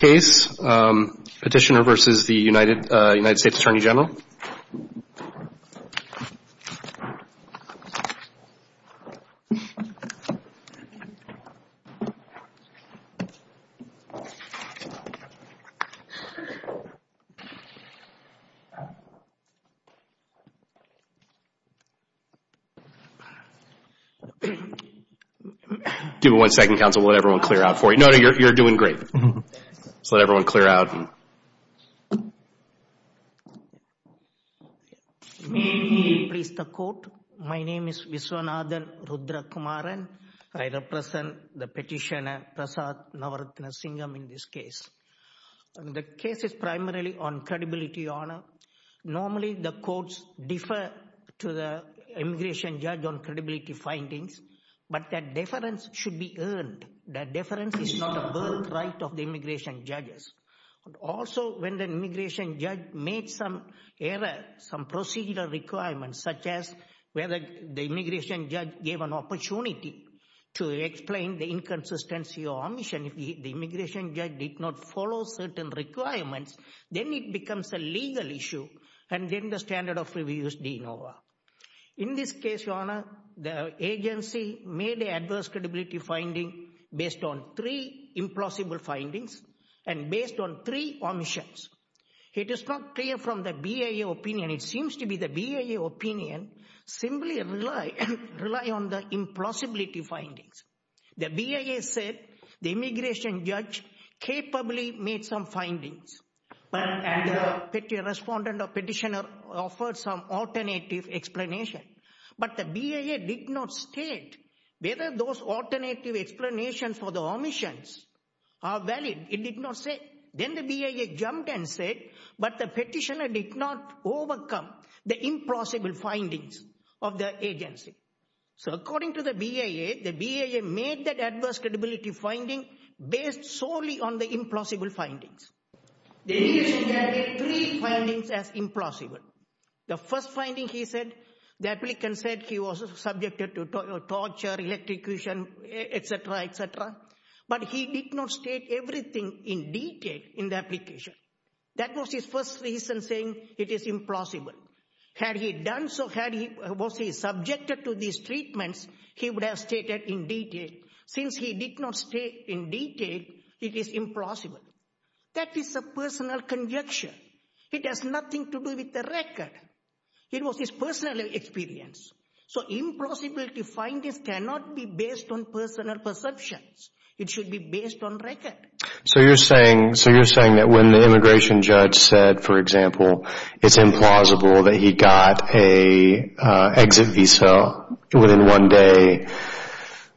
Case, Petitioner versus the United States Attorney General. Give me one second, counsel, I'll let everyone clear out for you. No, no, you're doing great. Just let everyone clear out. May he please the court. My name is Viswanathan Rudrakumaran. I represent the petitioner, Prasath Navarathnasingam in this case. The case is primarily on credibility, Your Honor. Normally the courts differ to the immigration judge on credibility findings, but that difference is not a birthright of the immigration judges. Also, when the immigration judge made some error, some procedure requirements, such as whether the immigration judge gave an opportunity to explain the inconsistency or omission, if the immigration judge did not follow certain requirements, then it becomes a legal issue, and then the standard of review is de novo. In this case, Your Honor, the agency made an adverse credibility finding based on three implausible findings and based on three omissions. It is not clear from the BIA opinion, it seems to be the BIA opinion simply rely on the implausibility findings. The BIA said the immigration judge capably made some findings, and the respondent or petitioner offered some alternative explanation, but the BIA did not state whether those alternative explanations for the omissions are valid. It did not say. Then the BIA jumped and said, but the petitioner did not overcome the implausible findings of the agency. So according to the BIA, the BIA made that adverse credibility finding based solely on the implausible findings. The immigration judge made three findings as implausible. The first finding, he said, the applicant said he was subjected to torture, electrocution, etc., etc., but he did not state everything in detail in the application. That was his first reason saying it is implausible. Had he done so, was he subjected to these conditions? He did not say in detail it is implausible. That is a personal conjecture. It has nothing to do with the record. It was his personal experience. So implausibility findings cannot be based on personal perceptions. It should be based on record. So you're saying that when the immigration judge said, for example, it's implausible that he got an exit visa within one day,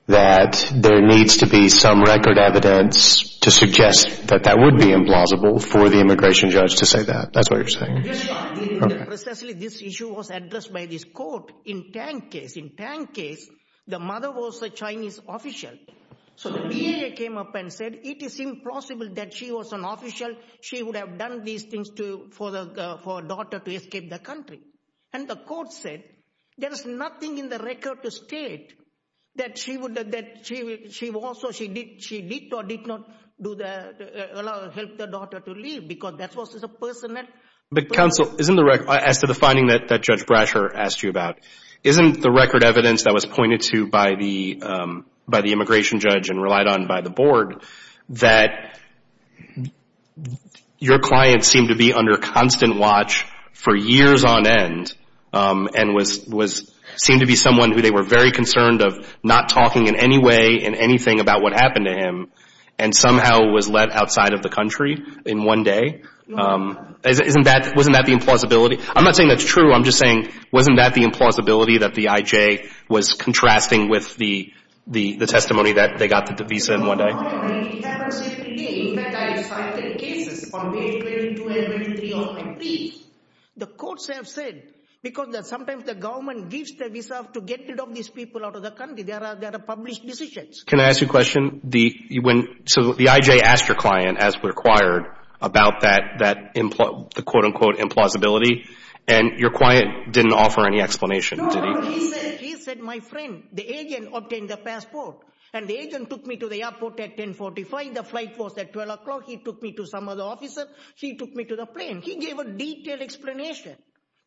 that there needs to be some other reason for the immigration judge to say that? There needs to be some record evidence to suggest that that would be implausible for the immigration judge to say that. That's what you're saying? Precisely, this issue was addressed by this court in Tang case. In Tang case, the mother was a Chinese official. So the BIA came up and said, it is impossible that she was an official. She would have done these things for her daughter to escape the country. And the court said, there is nothing in the record to state that she did or did not help the daughter to leave, because that was a personal... But counsel, as to the finding that Judge Brasher asked you about, isn't the record evidence that was pointed to by the immigration judge and relied on by the board, that your client seemed to be under constant watch for years on end, and seemed to be someone who they were very concerned of not talking in any way in anything about what happened to him, and somehow was let outside of the country in one day? No. Wasn't that the implausibility? I'm not saying that's true. I'm just saying, wasn't that the implausibility that the IJ was contrasting with the testimony that they got the visa in one day? No, Your Honor. It happens every day. In fact, I have cited cases on page 22 and 23 of my briefs. The courts have said, because sometimes the government gives the visa to get rid of these people out of the country, there are published decisions. Can I ask you a question? So the IJ asked your client, as required, about that, the quote-unquote implausibility, and your client didn't offer any explanation? No, he said, my friend, the agent obtained the passport, and the agent took me to the airport at 10.45. The flight was at 12 o'clock. He took me to some other officer. He took me to the plane. He gave a detailed explanation.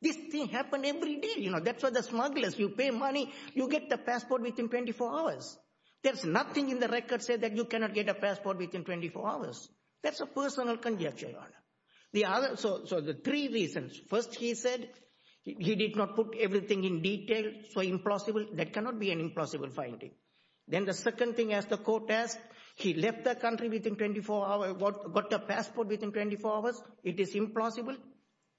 This thing happened every day. You know, that's what the smugglers, you pay money, you get the passport within 24 hours. There's nothing in the record say that you cannot get a passport within 24 hours. That's a personal conjecture, Your Honor. So the three reasons. First, he said he did not put everything in detail. So implausible. That cannot be an implausible finding. Then the second thing, as the court asked, he left the country within 24 hours, got the passport within 24 hours. It is implausible.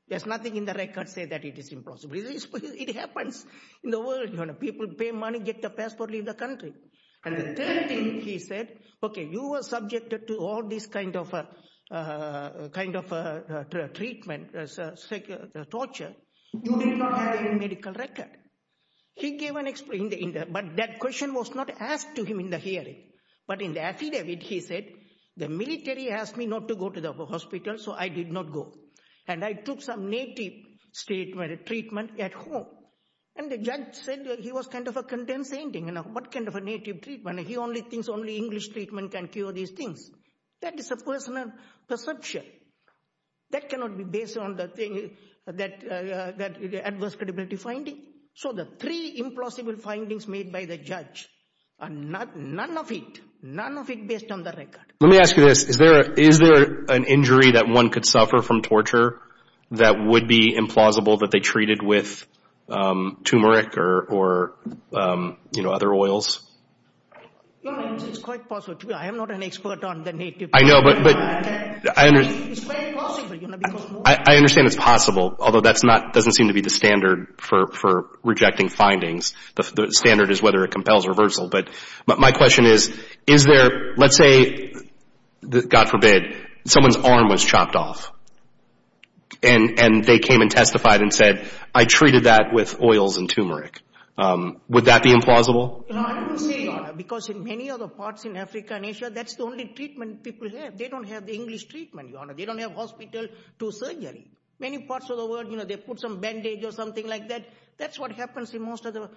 There's nothing in the record say that it is implausible. It happens in the world, Your Honor. People pay money, get the passport, leave the country. And the third thing, he said, okay, you were subjected to all this kind of treatment, torture. You did not have a medical record. He gave an explanation. But that question was not asked to him in the hearing. But in the affidavit, he said, the military asked me not to go to the hospital, so I did not go. And I took some native treatment at home. And the judge said he was kind of condescending. What kind of a native treatment? He only thinks only English treatment can cure these things. That is a personal perception. That cannot be based on the adverse credibility finding. So the three implausible findings made by the judge, none of it, none of it based on the record. Let me ask you this. Is there an injury that one could suffer from torture that would be implausible that they treated with turmeric or, you know, other oils? Your Honor, it's quite possible. I am not an expert on the native treatment. I know, but I understand it's possible, although that doesn't seem to be the standard for rejecting findings. The standard is whether it compels reversal. But my question is, is there, let's say, God forbid, someone's arm was chopped off. And they came and testified and said, I treated that with oils and turmeric. Would that be implausible? No, I wouldn't say that. Because in many other parts in Africa and Asia, that's the only treatment people have. They don't have the English treatment, Your Honor. They don't have hospital to surgery. Many parts of the world, you know, they put some bandage or something like that. That's what happens in most of the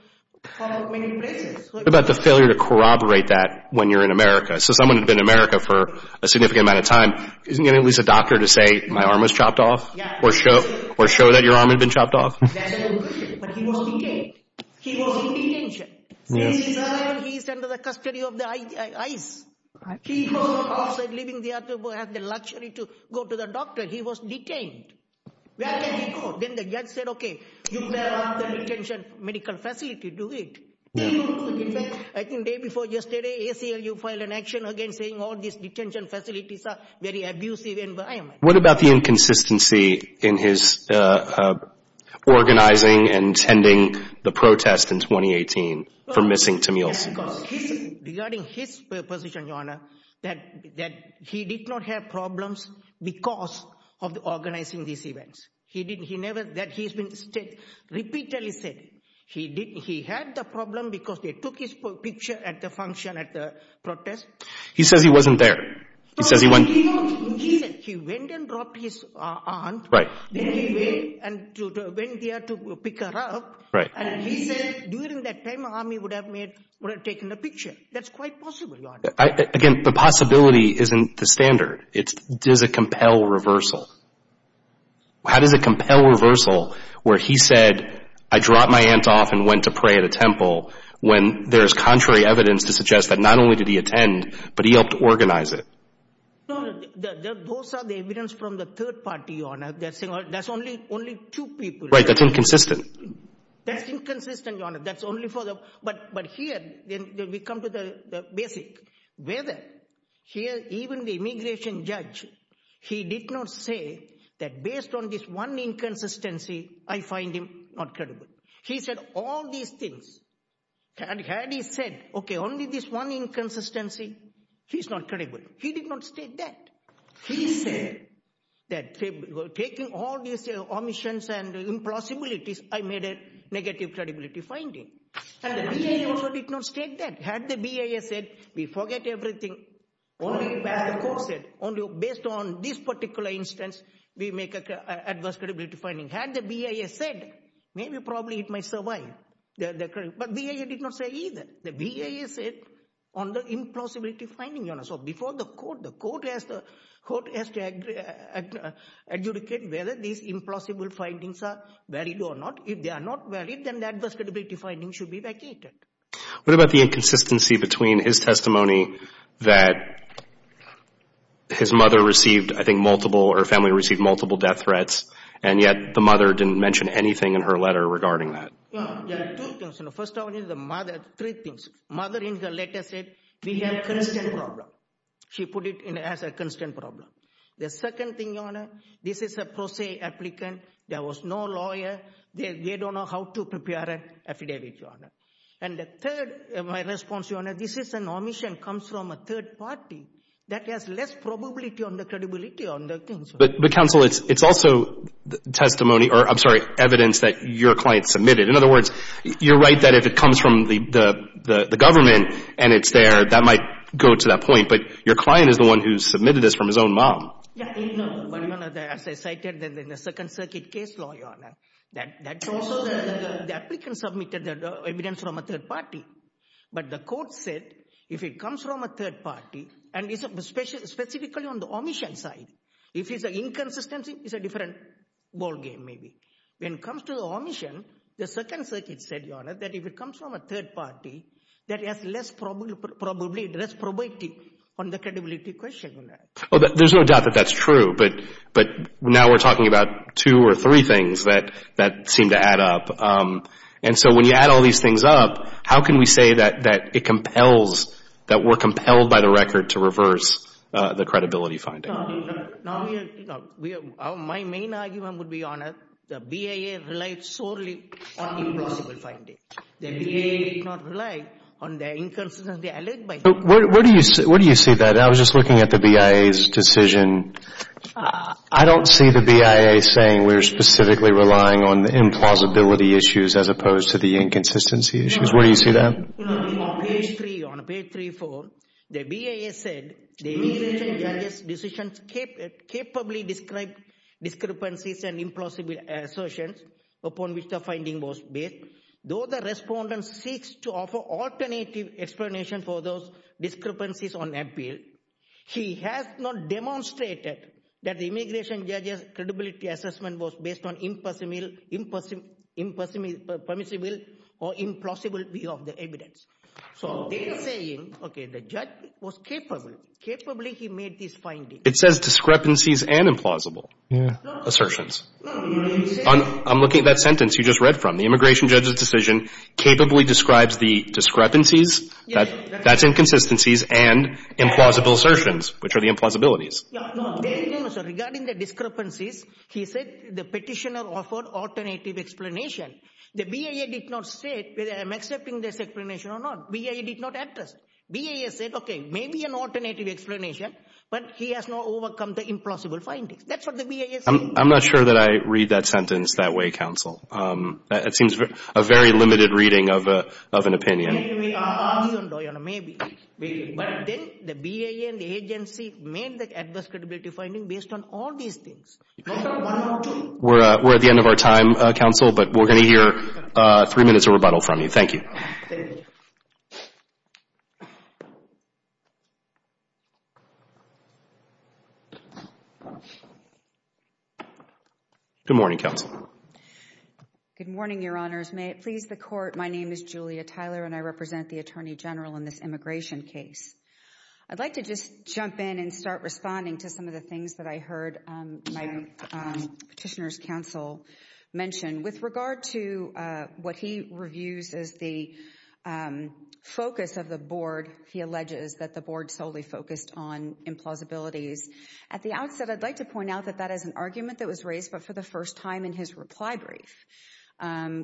places. What about the failure to corroborate that when you're in America? So someone had been in America for a significant amount of time. Isn't there at least a doctor to say my arm was chopped off or show that your arm had been chopped off? But he was detained. He was in detention. He's under the custody of the ICE. He was also living there to have the luxury to go to the doctor. He was detained. Where can the detention medical facility do it? I think the day before yesterday, ACLU filed an action against saying all these detention facilities are very abusive environment. What about the inconsistency in his organizing and tending the protest in 2018 for missing Tamil Sagar? Regarding his position, Your Honor, that he did not have problems because of organizing these events. He repeatedly said he had the problem because they took his picture at the function at the protest. He says he wasn't there. He went and dropped his aunt. Right. Then he went there to pick her up. Right. And he said during that time, army would have taken the picture. That's quite possible, Your Honor. Again, the possibility isn't the standard. It's does it compel reversal? How does it compel reversal where he said, I dropped my aunt off and went to pray at a temple when there is contrary evidence to suggest that not only did he attend, but he helped organize it? Those are the evidence from the third party, Your Honor. That's only two people. Right. That's inconsistent. That's inconsistent, Your Honor. But here, we come to the basic. Here, even the immigration judge, he did not say that based on this one inconsistency, I find him not credible. He said all these things. Had he said, OK, only this one inconsistency, he's not credible. He did not state that. He said that taking all these omissions and impossibilities, I made a negative credibility finding. And the BIA also did not state that. Had the BIA said, we forget everything, only based on this particular instance, we make an adverse credibility finding. Had the BIA said, maybe probably it might survive. But the BIA did not say either. The BIA said on the impossibility finding, Your Honor. Before the court, the court has to adjudicate whether these impossible findings are valid or not. If they are not valid, then the adverse credibility finding should be vacated. What about the inconsistency between his testimony that his mother received, I think, multiple or family received multiple death threats, and yet the mother didn't mention anything in her letter regarding that? The first one is the mother. Three things. She put it as a constant problem. The second thing, Your Honor, this is a pro se applicant. There was no lawyer. They don't know how to prepare an affidavit, Your Honor. And the third, my response, Your Honor, this is an omission comes from a third party that has less probability on the credibility on the things. But, Counsel, it's also testimony or, I'm sorry, evidence that your client submitted. In other words, you're right that if it comes from the government and it's there, that might go to that point. But your client is the one who submitted this from his own mom. Yeah. But, Your Honor, as I cited in the Second Circuit case law, Your Honor, that's also the applicant submitted the evidence from a third party. But the court said if it comes from a third party, and specifically on the omission side, if it's an inconsistency, it's a different ballgame maybe. When it comes to the omission, the Second Circuit said, Your Honor, that if it comes from a third party that has less probability on the credibility question. Oh, there's no doubt that that's true. But now we're talking about two or three things that seem to add up. And so when you add all these things up, how can we say that it compels, that we're compelled by the record to reverse the credibility finding? My main argument would be, Your Honor, the BIA relied solely on implausible findings. The BIA did not rely on the inconsistency. Where do you see that? I was just looking at the BIA's decision. I don't see the BIA saying we're specifically relying on the implausibility issues as opposed to the inconsistency issues. Where do you see that? On page 3, on page 3, 4, the BIA said, the immigration judge's decision capably described discrepancies and implausible assertions upon which the finding was based. Though the respondent seeks to offer alternative explanation for those discrepancies on appeal, he has not demonstrated that the immigration judge's credibility assessment was based on permissible or implausible view of the evidence. So they're saying, okay, the judge was capable. Capably he made this finding. It says discrepancies and implausible assertions. I'm looking at that sentence you just read from. The immigration judge's decision capably describes the discrepancies, that's inconsistencies, and implausible assertions, which are the implausibilities. Regarding the discrepancies, he said the petitioner offered alternative explanation. The BIA did not say whether I'm accepting this explanation or not. BIA did not address it. BIA said, okay, maybe an alternative explanation, but he has not overcome the implausible findings. That's what the BIA said. I'm not sure that I read that sentence that way, counsel. It seems a very limited reading of an opinion. Maybe. But then the BIA and the agency made the adverse credibility finding based on all these things. We're at the end of our time, counsel, but we're going to hear three minutes of rebuttal from you. Thank you. Thank you. Good morning, counsel. Good morning, Your Honors. May it please the Court, my name is Julia Tyler and I represent the Attorney General in this immigration case. I'd like to just jump in and start responding to some of the things that I heard my petitioner's counsel mention. With regard to what he reviews as the focus of the board, he alleges that the board solely focused on implausibilities. At the outset, I'd like to point out that that is an argument that was raised but for the first time in his reply brief,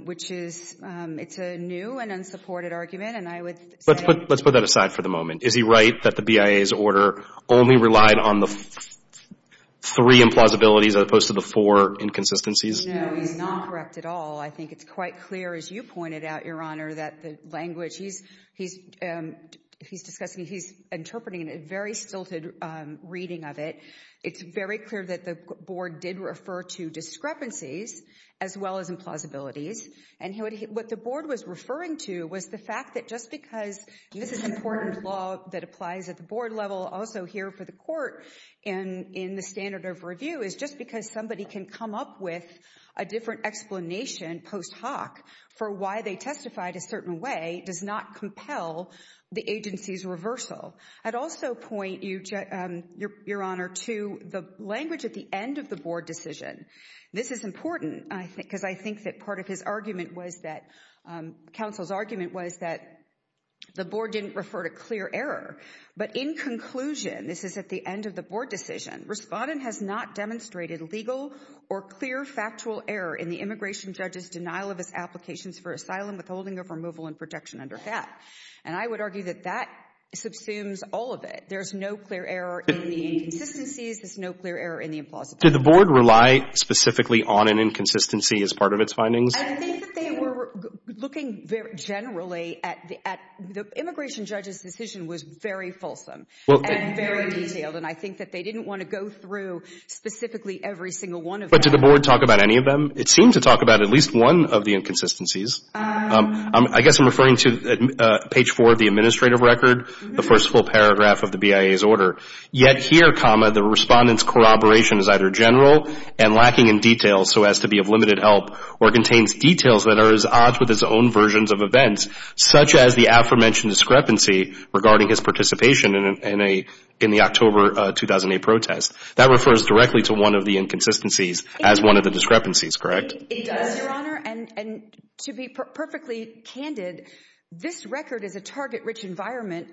which is, it's a new and unsupported argument and I would say- Let's put that aside for the moment. Is he right that the BIA's order only relied on the three implausibilities as opposed to the four inconsistencies? No, he's not correct at all. I think it's quite clear, as you pointed out, Your Honor, that the language he's discussing, he's interpreting a very stilted reading of it. It's very clear that the board did refer to discrepancies as well as implausibilities. And what the board was referring to was the fact that just because this is important law that applies at the board level, also here for the court and in the standard of review, is just because somebody can come up with a different explanation post hoc for why they testified a certain way, does not compel the agency's reversal. I'd also point you, Your Honor, to the language at the end of the board decision. This is important because I think that part of his argument was that- counsel's argument was that the board didn't refer to clear error. But in conclusion, this is at the end of the board decision, Respondent has not demonstrated legal or clear factual error in the immigration judge's denial of his applications for asylum withholding of removal and protection under FAT. And I would argue that that subsumes all of it. There's no clear error in the inconsistencies. There's no clear error in the implausibility. Did the board rely specifically on an inconsistency as part of its findings? I think that they were looking generally at the immigration judge's decision was very fulsome and very detailed. And I think that they didn't want to go through specifically every single one of them. But did the board talk about any of them? It seemed to talk about at least one of the inconsistencies. I guess I'm referring to page four of the administrative record, the first full paragraph of the BIA's order. Yet here, comma, the Respondent's corroboration is either general and lacking in detail so as to be of limited help or contains details that are at odds with his own versions of events, such as the aforementioned discrepancy regarding his participation in the October 2008 protest. That refers directly to one of the inconsistencies as one of the discrepancies, correct? It does, Your Honor. And to be perfectly candid, this record is a target-rich environment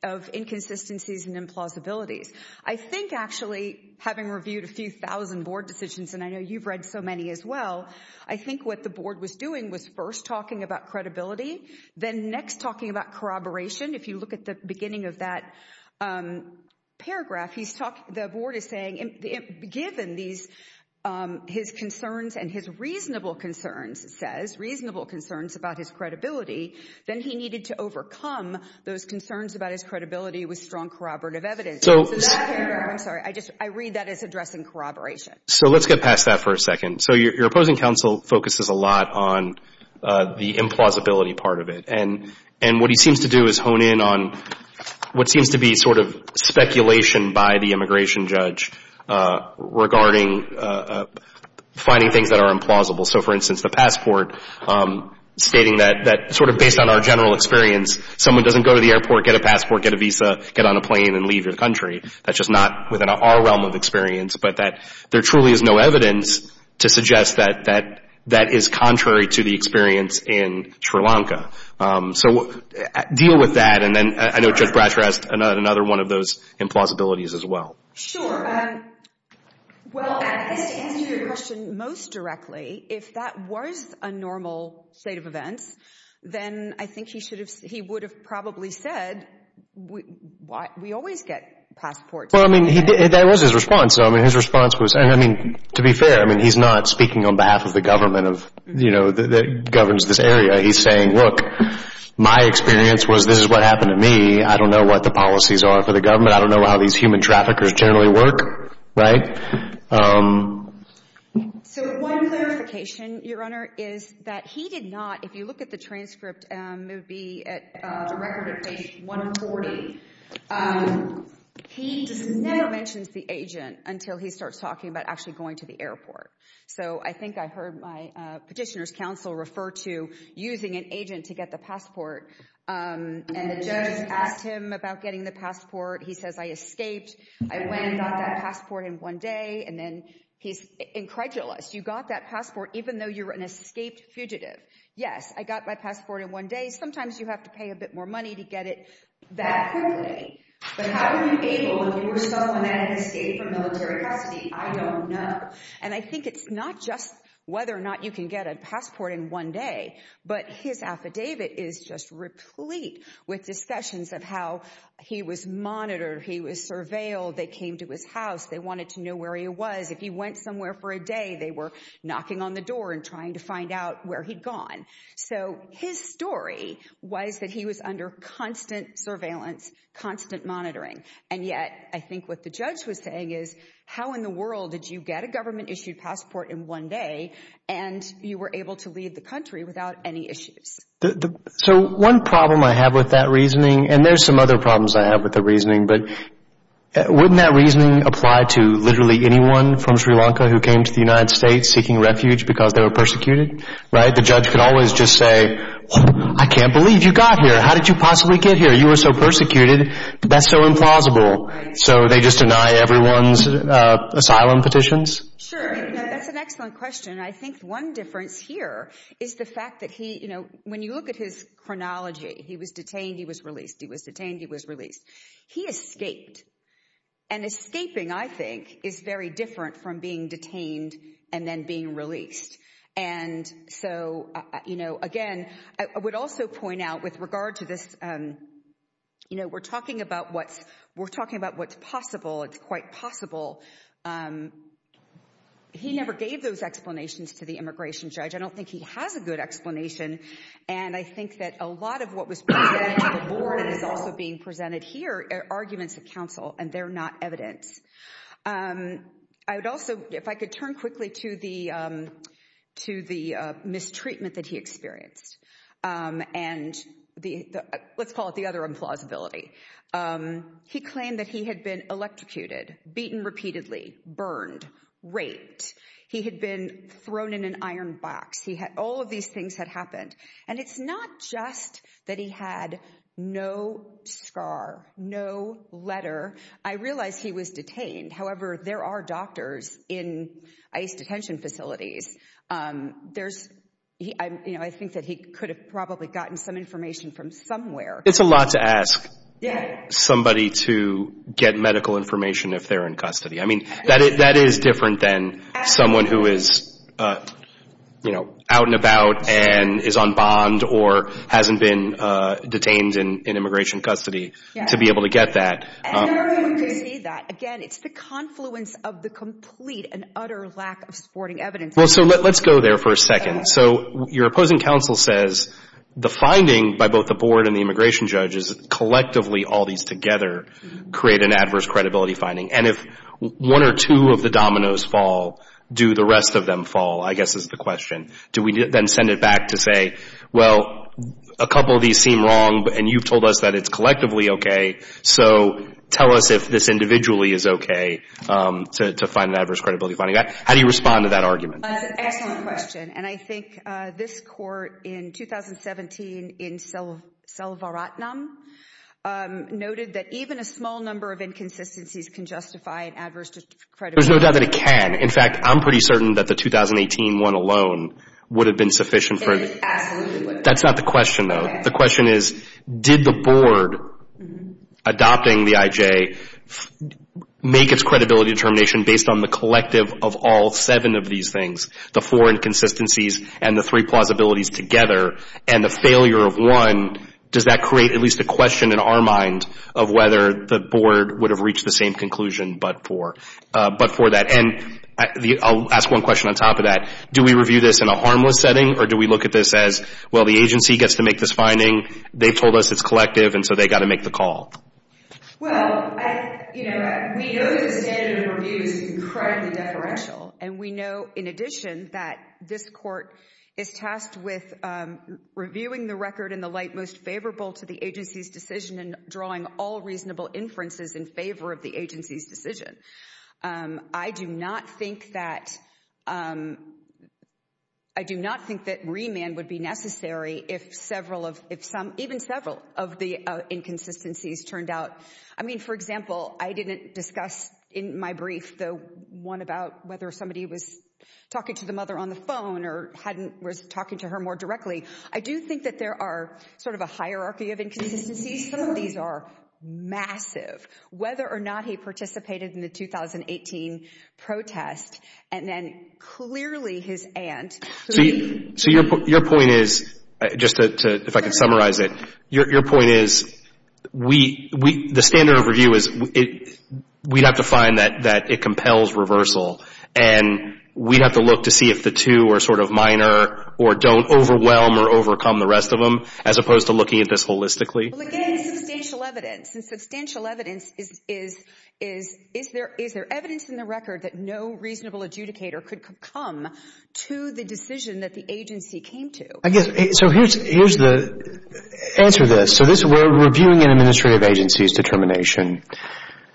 of inconsistencies and implausibilities. I think actually having reviewed a few thousand board decisions, and I know you've read so many as well, I think what the board was doing was first talking about credibility, then next talking about corroboration. If you look at the beginning of that paragraph, the board is saying, given his concerns and his reasonable concerns, it says, reasonable concerns about his credibility, then he needed to overcome those concerns about his credibility with strong corroborative evidence. I'm sorry, I read that as addressing corroboration. So let's get past that for a second. So your opposing counsel focuses a lot on the implausibility part of it. And what he seems to do is hone in on what seems to be sort of speculation by the immigration judge regarding finding things that are implausible. So, for instance, the passport stating that sort of based on our general experience, someone doesn't go to the airport, get a passport, get a visa, get on a plane, and leave your country. That's just not within our realm of experience, but that there truly is no evidence to suggest that that is contrary to the experience in Sri Lanka. So deal with that. And then I know Judge Bratcher asked another one of those implausibilities as well. Sure. Well, to answer your question most directly, if that was a normal state of events, then I think he would have probably said, we always get passports. Well, I mean, that was his response. I mean, his response was, I mean, to be fair, I mean, he's not speaking on behalf of the government of, you know, that governs this area. He's saying, look, my experience was this is what happened to me. I don't know what the policies are for the government. I don't know how these human traffickers generally work. Right? So one clarification, Your Honor, is that he did not, if you look at the transcript, it would be at the record of page 140. He never mentions the agent until he starts talking about actually going to the airport. So I think I heard my petitioner's counsel refer to using an agent to get the passport, and the judge asked him about getting the passport. He says, I escaped. I went and got that passport in one day. And then he's incredulous. You got that passport even though you're an escaped fugitive. Yes, I got my passport in one day. Sometimes you have to pay a bit more money to get it that quickly. But how were you able if you were someone that had escaped from military custody? I don't know. And I think it's not just whether or not you can get a passport in one day, but his affidavit is just replete with discussions of how he was monitored, he was surveilled, they came to his house, they wanted to know where he was. If he went somewhere for a day, they were knocking on the door and trying to find out where he'd gone. So his story was that he was under constant surveillance, constant monitoring. And yet I think what the judge was saying is, how in the world did you get a government-issued passport in one day and you were able to leave the country without any issues? So one problem I have with that reasoning, and there's some other problems I have with the reasoning, but wouldn't that reasoning apply to literally anyone from Sri Lanka who came to the United States seeking refuge because they were persecuted? The judge could always just say, I can't believe you got here. How did you possibly get here? You were so persecuted. That's so implausible. So they just deny everyone's asylum petitions? Sure. That's an excellent question. I think one difference here is the fact that when you look at his chronology, he was detained, he was released, he was detained, he was released. He escaped. And escaping, I think, is very different from being detained and then being released. And so, you know, again, I would also point out with regard to this, you know, we're talking about what's possible. It's quite possible. He never gave those explanations to the immigration judge. I don't think he has a good explanation. And I think that a lot of what was presented to the board is also being presented here, arguments of counsel, and they're not evidence. I would also, if I could turn quickly to the mistreatment that he experienced and let's call it the other implausibility. He claimed that he had been electrocuted, beaten repeatedly, burned, raped. He had been thrown in an iron box. All of these things had happened. And it's not just that he had no scar, no letter. I realize he was detained. However, there are doctors in ICE detention facilities. I think that he could have probably gotten some information from somewhere. It's a lot to ask somebody to get medical information if they're in custody. I mean, that is different than someone who is, you know, out and about and is on bond or hasn't been detained in immigration custody to be able to get that. And everyone can see that. Again, it's the confluence of the complete and utter lack of supporting evidence. Well, so let's go there for a second. So your opposing counsel says the finding by both the board and the immigration judge is that collectively all these together create an adverse credibility finding. And if one or two of the dominoes fall, do the rest of them fall, I guess is the question. Do we then send it back to say, well, a couple of these seem wrong and you've told us that it's collectively okay, so tell us if this individually is okay to find an adverse credibility finding? How do you respond to that argument? That's an excellent question. And I think this court in 2017 in Selvaratnam noted that even a small number of inconsistencies can justify an adverse credibility finding. There's no doubt that it can. In fact, I'm pretty certain that the 2018 one alone would have been sufficient for it. Absolutely. That's not the question, though. The question is, did the board adopting the IJ make its credibility determination based on the collective of all seven of these things, the four inconsistencies and the three plausibilities together, and the failure of one, does that create at least a question in our mind of whether the board would have reached the same conclusion but for that? And I'll ask one question on top of that. Do we review this in a harmless setting, or do we look at this as, well, the agency gets to make this finding, they've told us it's collective, and so they've got to make the call? Well, we know that the standard of review is incredibly deferential, and we know in addition that this court is tasked with reviewing the record in the light most favorable to the agency's decision and drawing all reasonable inferences in favor of the agency's decision. I do not think that remand would be necessary if even several of the inconsistencies turned out. I mean, for example, I didn't discuss in my brief the one about whether somebody was talking to the mother on the phone or was talking to her more directly. I do think that there are sort of a hierarchy of inconsistencies. Some of these are massive. Whether or not he participated in the 2018 protest, and then clearly his aunt. So your point is, just if I could summarize it, your point is the standard of review is we'd have to find that it compels reversal, and we'd have to look to see if the two are sort of minor or don't overwhelm or overcome the rest of them, as opposed to looking at this holistically. Well, again, substantial evidence, and substantial evidence is, is there evidence in the record that no reasonable adjudicator could come to the decision that the agency came to? I guess, so here's the answer to this. So we're reviewing an administrative agency's determination.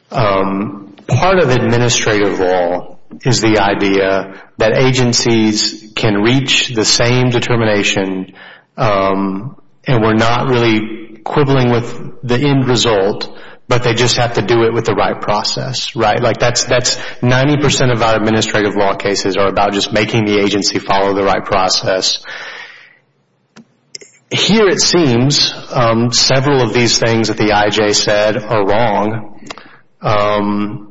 Part of administrative law is the idea that agencies can reach the same determination and we're not really quibbling with the end result, but they just have to do it with the right process, right? Like that's 90% of our administrative law cases are about just making the agency follow the right process. Here it seems several of these things that the I.J. said are wrong.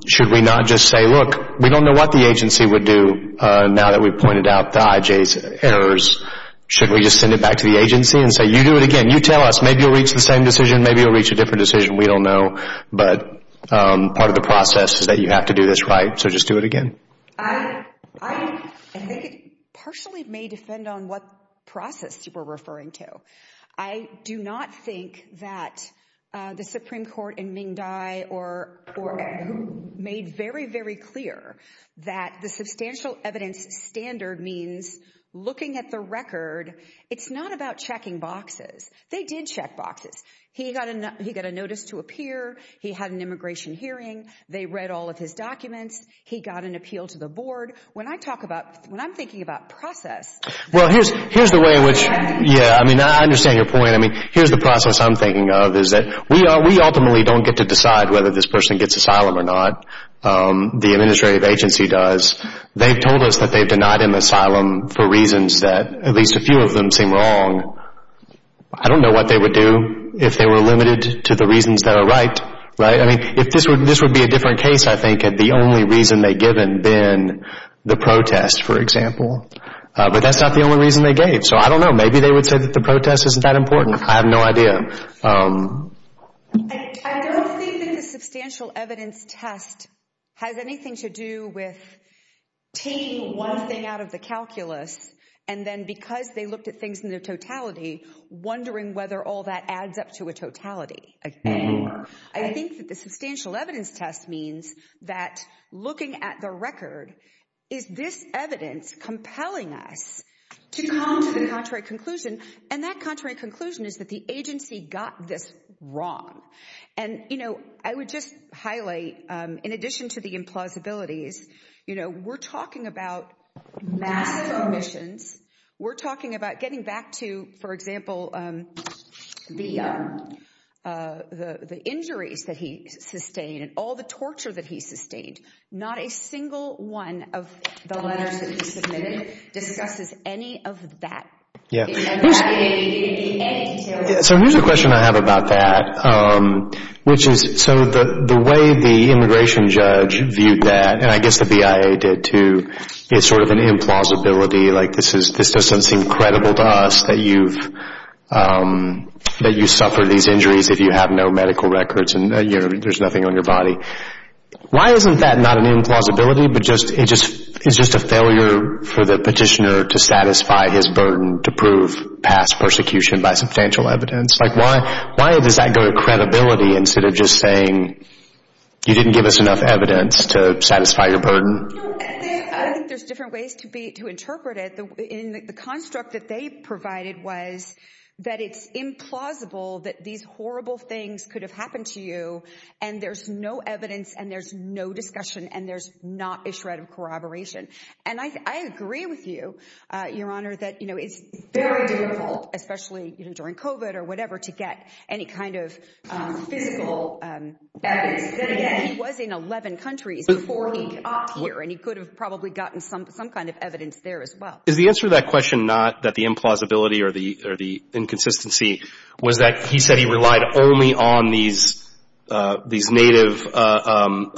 Should we not just say, look, we don't know what the agency would do now that we've pointed out the I.J.'s errors. Should we just send it back to the agency and say, you do it again. You tell us, maybe you'll reach the same decision, maybe you'll reach a different decision. We don't know, but part of the process is that you have to do this right, so just do it again. I think it partially may defend on what process you were referring to. I do not think that the Supreme Court in Ming Dai made very, very clear that the substantial evidence standard means looking at the record. It's not about checking boxes. They did check boxes. He got a notice to appear. He had an immigration hearing. They read all of his documents. He got an appeal to the board. When I talk about, when I'm thinking about process. Well, here's the way in which, yeah, I mean, I understand your point. I mean, here's the process I'm thinking of is that we ultimately don't get to decide whether this person gets asylum or not. The administrative agency does. They've told us that they've denied him asylum for reasons that at least a few of them seem wrong. I don't know what they would do if they were limited to the reasons that are right, right? I mean, this would be a different case, I think, had the only reason they given been the protest, for example. But that's not the only reason they gave. So I don't know. Maybe they would say that the protest isn't that important. I have no idea. I don't think that the substantial evidence test has anything to do with taking one thing out of the calculus and then because they looked at things in their totality, wondering whether all that adds up to a totality. I think that the substantial evidence test means that looking at the record, is this evidence compelling us to come to the contrary conclusion? And that contrary conclusion is that the agency got this wrong. And, you know, I would just highlight, in addition to the implausibilities, you know, we're talking about massive omissions. We're talking about getting back to, for example, the injuries that he sustained and all the torture that he sustained. Not a single one of the letters that he submitted discusses any of that. So here's a question I have about that, which is, so the way the immigration judge viewed that, and I guess the BIA did too, is sort of an implausibility. Like this doesn't seem credible to us that you suffer these injuries if you have no medical records and there's nothing on your body. Why isn't that not an implausibility, but it's just a failure for the petitioner to satisfy his burden to prove past persecution by substantial evidence? Like why does that go to credibility instead of just saying you didn't give us enough evidence to satisfy your burden? I think there's different ways to interpret it. The construct that they provided was that it's implausible that these horrible things could have happened to you, and there's no evidence and there's no discussion and there's not a shred of corroboration. And I agree with you, Your Honor, that it's very difficult, especially during COVID or whatever, to get any kind of physical evidence. Then again, he was in 11 countries before he got here, and he could have probably gotten some kind of evidence there as well. Is the answer to that question not that the implausibility or the inconsistency was that he said he relied only on these native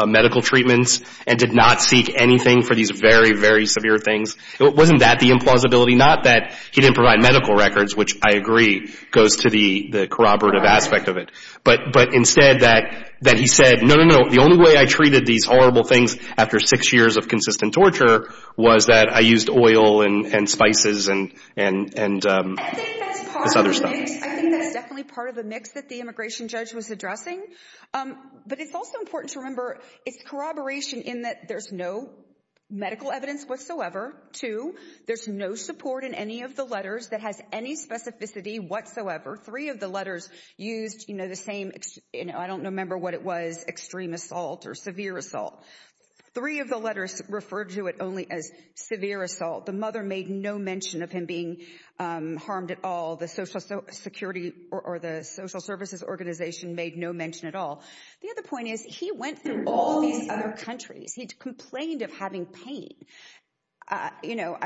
medical treatments and did not seek anything for these very, very severe things? Wasn't that the implausibility? Not that he didn't provide medical records, which I agree goes to the corroborative aspect of it, but instead that he said, no, no, no, the only way I treated these horrible things after six years of consistent torture was that I used oil and spices and this other stuff. I think that's definitely part of the mix that the immigration judge was addressing. But it's also important to remember it's corroboration in that there's no medical evidence whatsoever. Two, there's no support in any of the letters that has any specificity whatsoever. Three of the letters used the same, I don't remember what it was, extreme assault or severe assault. Three of the letters referred to it only as severe assault. The mother made no mention of him being harmed at all. The social security or the social services organization made no mention at all. The other point is he went through all these other countries. He complained of having pain. You know,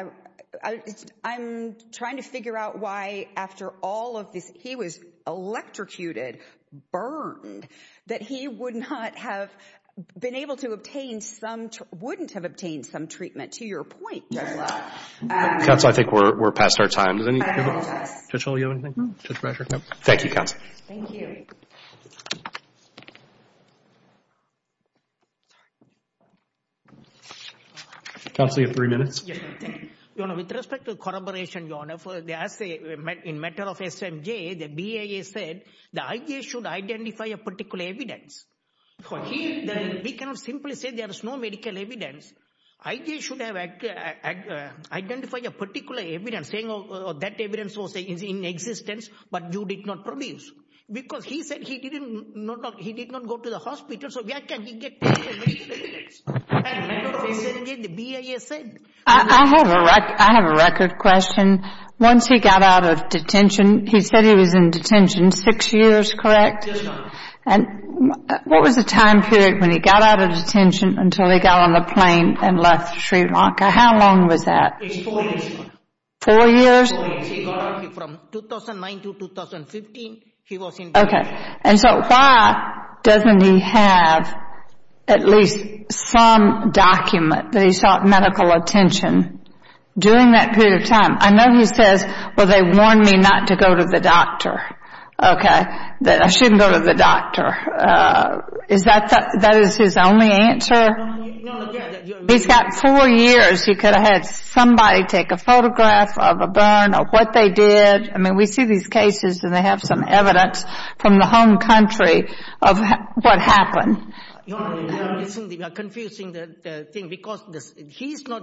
I'm trying to figure out why after all of this, he was electrocuted, burned, that he would not have been able to obtain some, wouldn't have obtained some treatment. That's a lot. Counsel, I think we're past our time. Does anybody have any questions? Judge Hull, do you have anything? Thank you, counsel. Thank you. Counsel, you have three minutes. Yes, thank you. With respect to corroboration, Your Honor, in matter of SMJ, the BIA said the IJ should identify a particular evidence. We cannot simply say there is no medical evidence. IJ should have identified a particular evidence, saying that evidence was in existence, but you did not produce. Because he said he did not go to the hospital, so where can he get medical evidence? In matter of SMJ, the BIA said. I have a record question. Once he got out of detention, he said he was in detention six years, correct? Yes, Your Honor. And what was the time period when he got out of detention until he got on the plane and left Sri Lanka? How long was that? Four years. Four years? From 2009 to 2015, he was in detention. Okay. And so why doesn't he have at least some document that he sought medical attention during that period of time? I know he says, well, they warned me not to go to the doctor, okay? That I shouldn't go to the doctor. Is that his only answer? No. He's got four years. He could have had somebody take a photograph of a burn or what they did. I mean, we see these cases and they have some evidence from the home country of what happened. Your Honor, we are confusing the thing because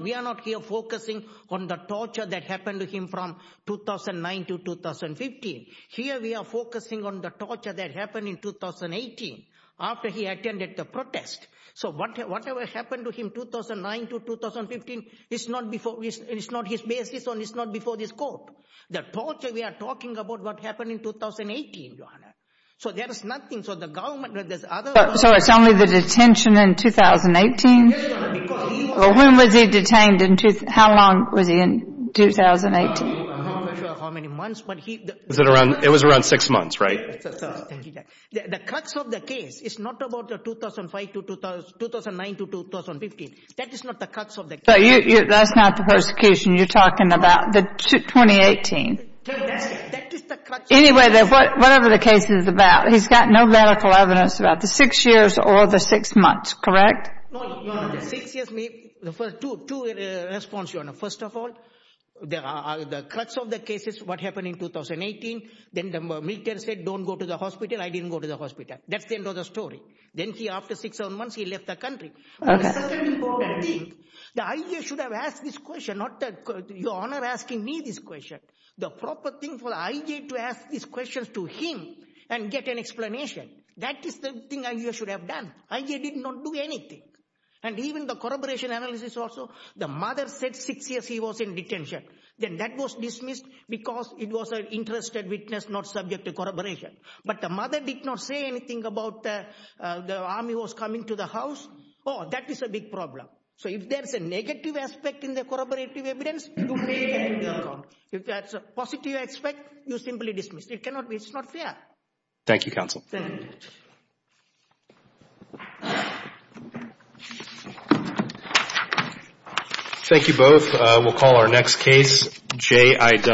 we are not here focusing on the torture that happened to him from 2009 to 2015. Here we are focusing on the torture that happened in 2018 after he attended the protest. So whatever happened to him 2009 to 2015, it's not his basis and it's not before this court. The torture we are talking about what happened in 2018, Your Honor. So there is nothing. So it's only the detention in 2018? Yes, Your Honor. When was he detained? How long was he in 2018? I'm not sure how many months. It was around six months, right? The crux of the case is not about the 2005 to 2009 to 2015. That is not the crux of the case. That's not the persecution you're talking about, the 2018. That is the crux of the case. Anyway, whatever the case is about, he's got no medical evidence about the six years or the six months, correct? No, Your Honor. The first two responses, Your Honor. First of all, the crux of the case is what happened in 2018. Then the military said don't go to the hospital. I didn't go to the hospital. That's the end of the story. Then after six or seven months, he left the country. The second important thing, the IJ should have asked this question, not Your Honor asking me this question. The proper thing for IJ to ask these questions to him and get an explanation. That is the thing IJ should have done. IJ did not do anything. And even the corroboration analysis also, the mother said six years he was in detention. Then that was dismissed because it was an interested witness not subject to corroboration. But the mother did not say anything about the army was coming to the house. Oh, that is a big problem. So if there's a negative aspect in the corroborative evidence, you take that into account. If there's a positive aspect, you simply dismiss it. It's not fair. Thank you, Counsel. Thank you both. We'll call our next case, J.I.W.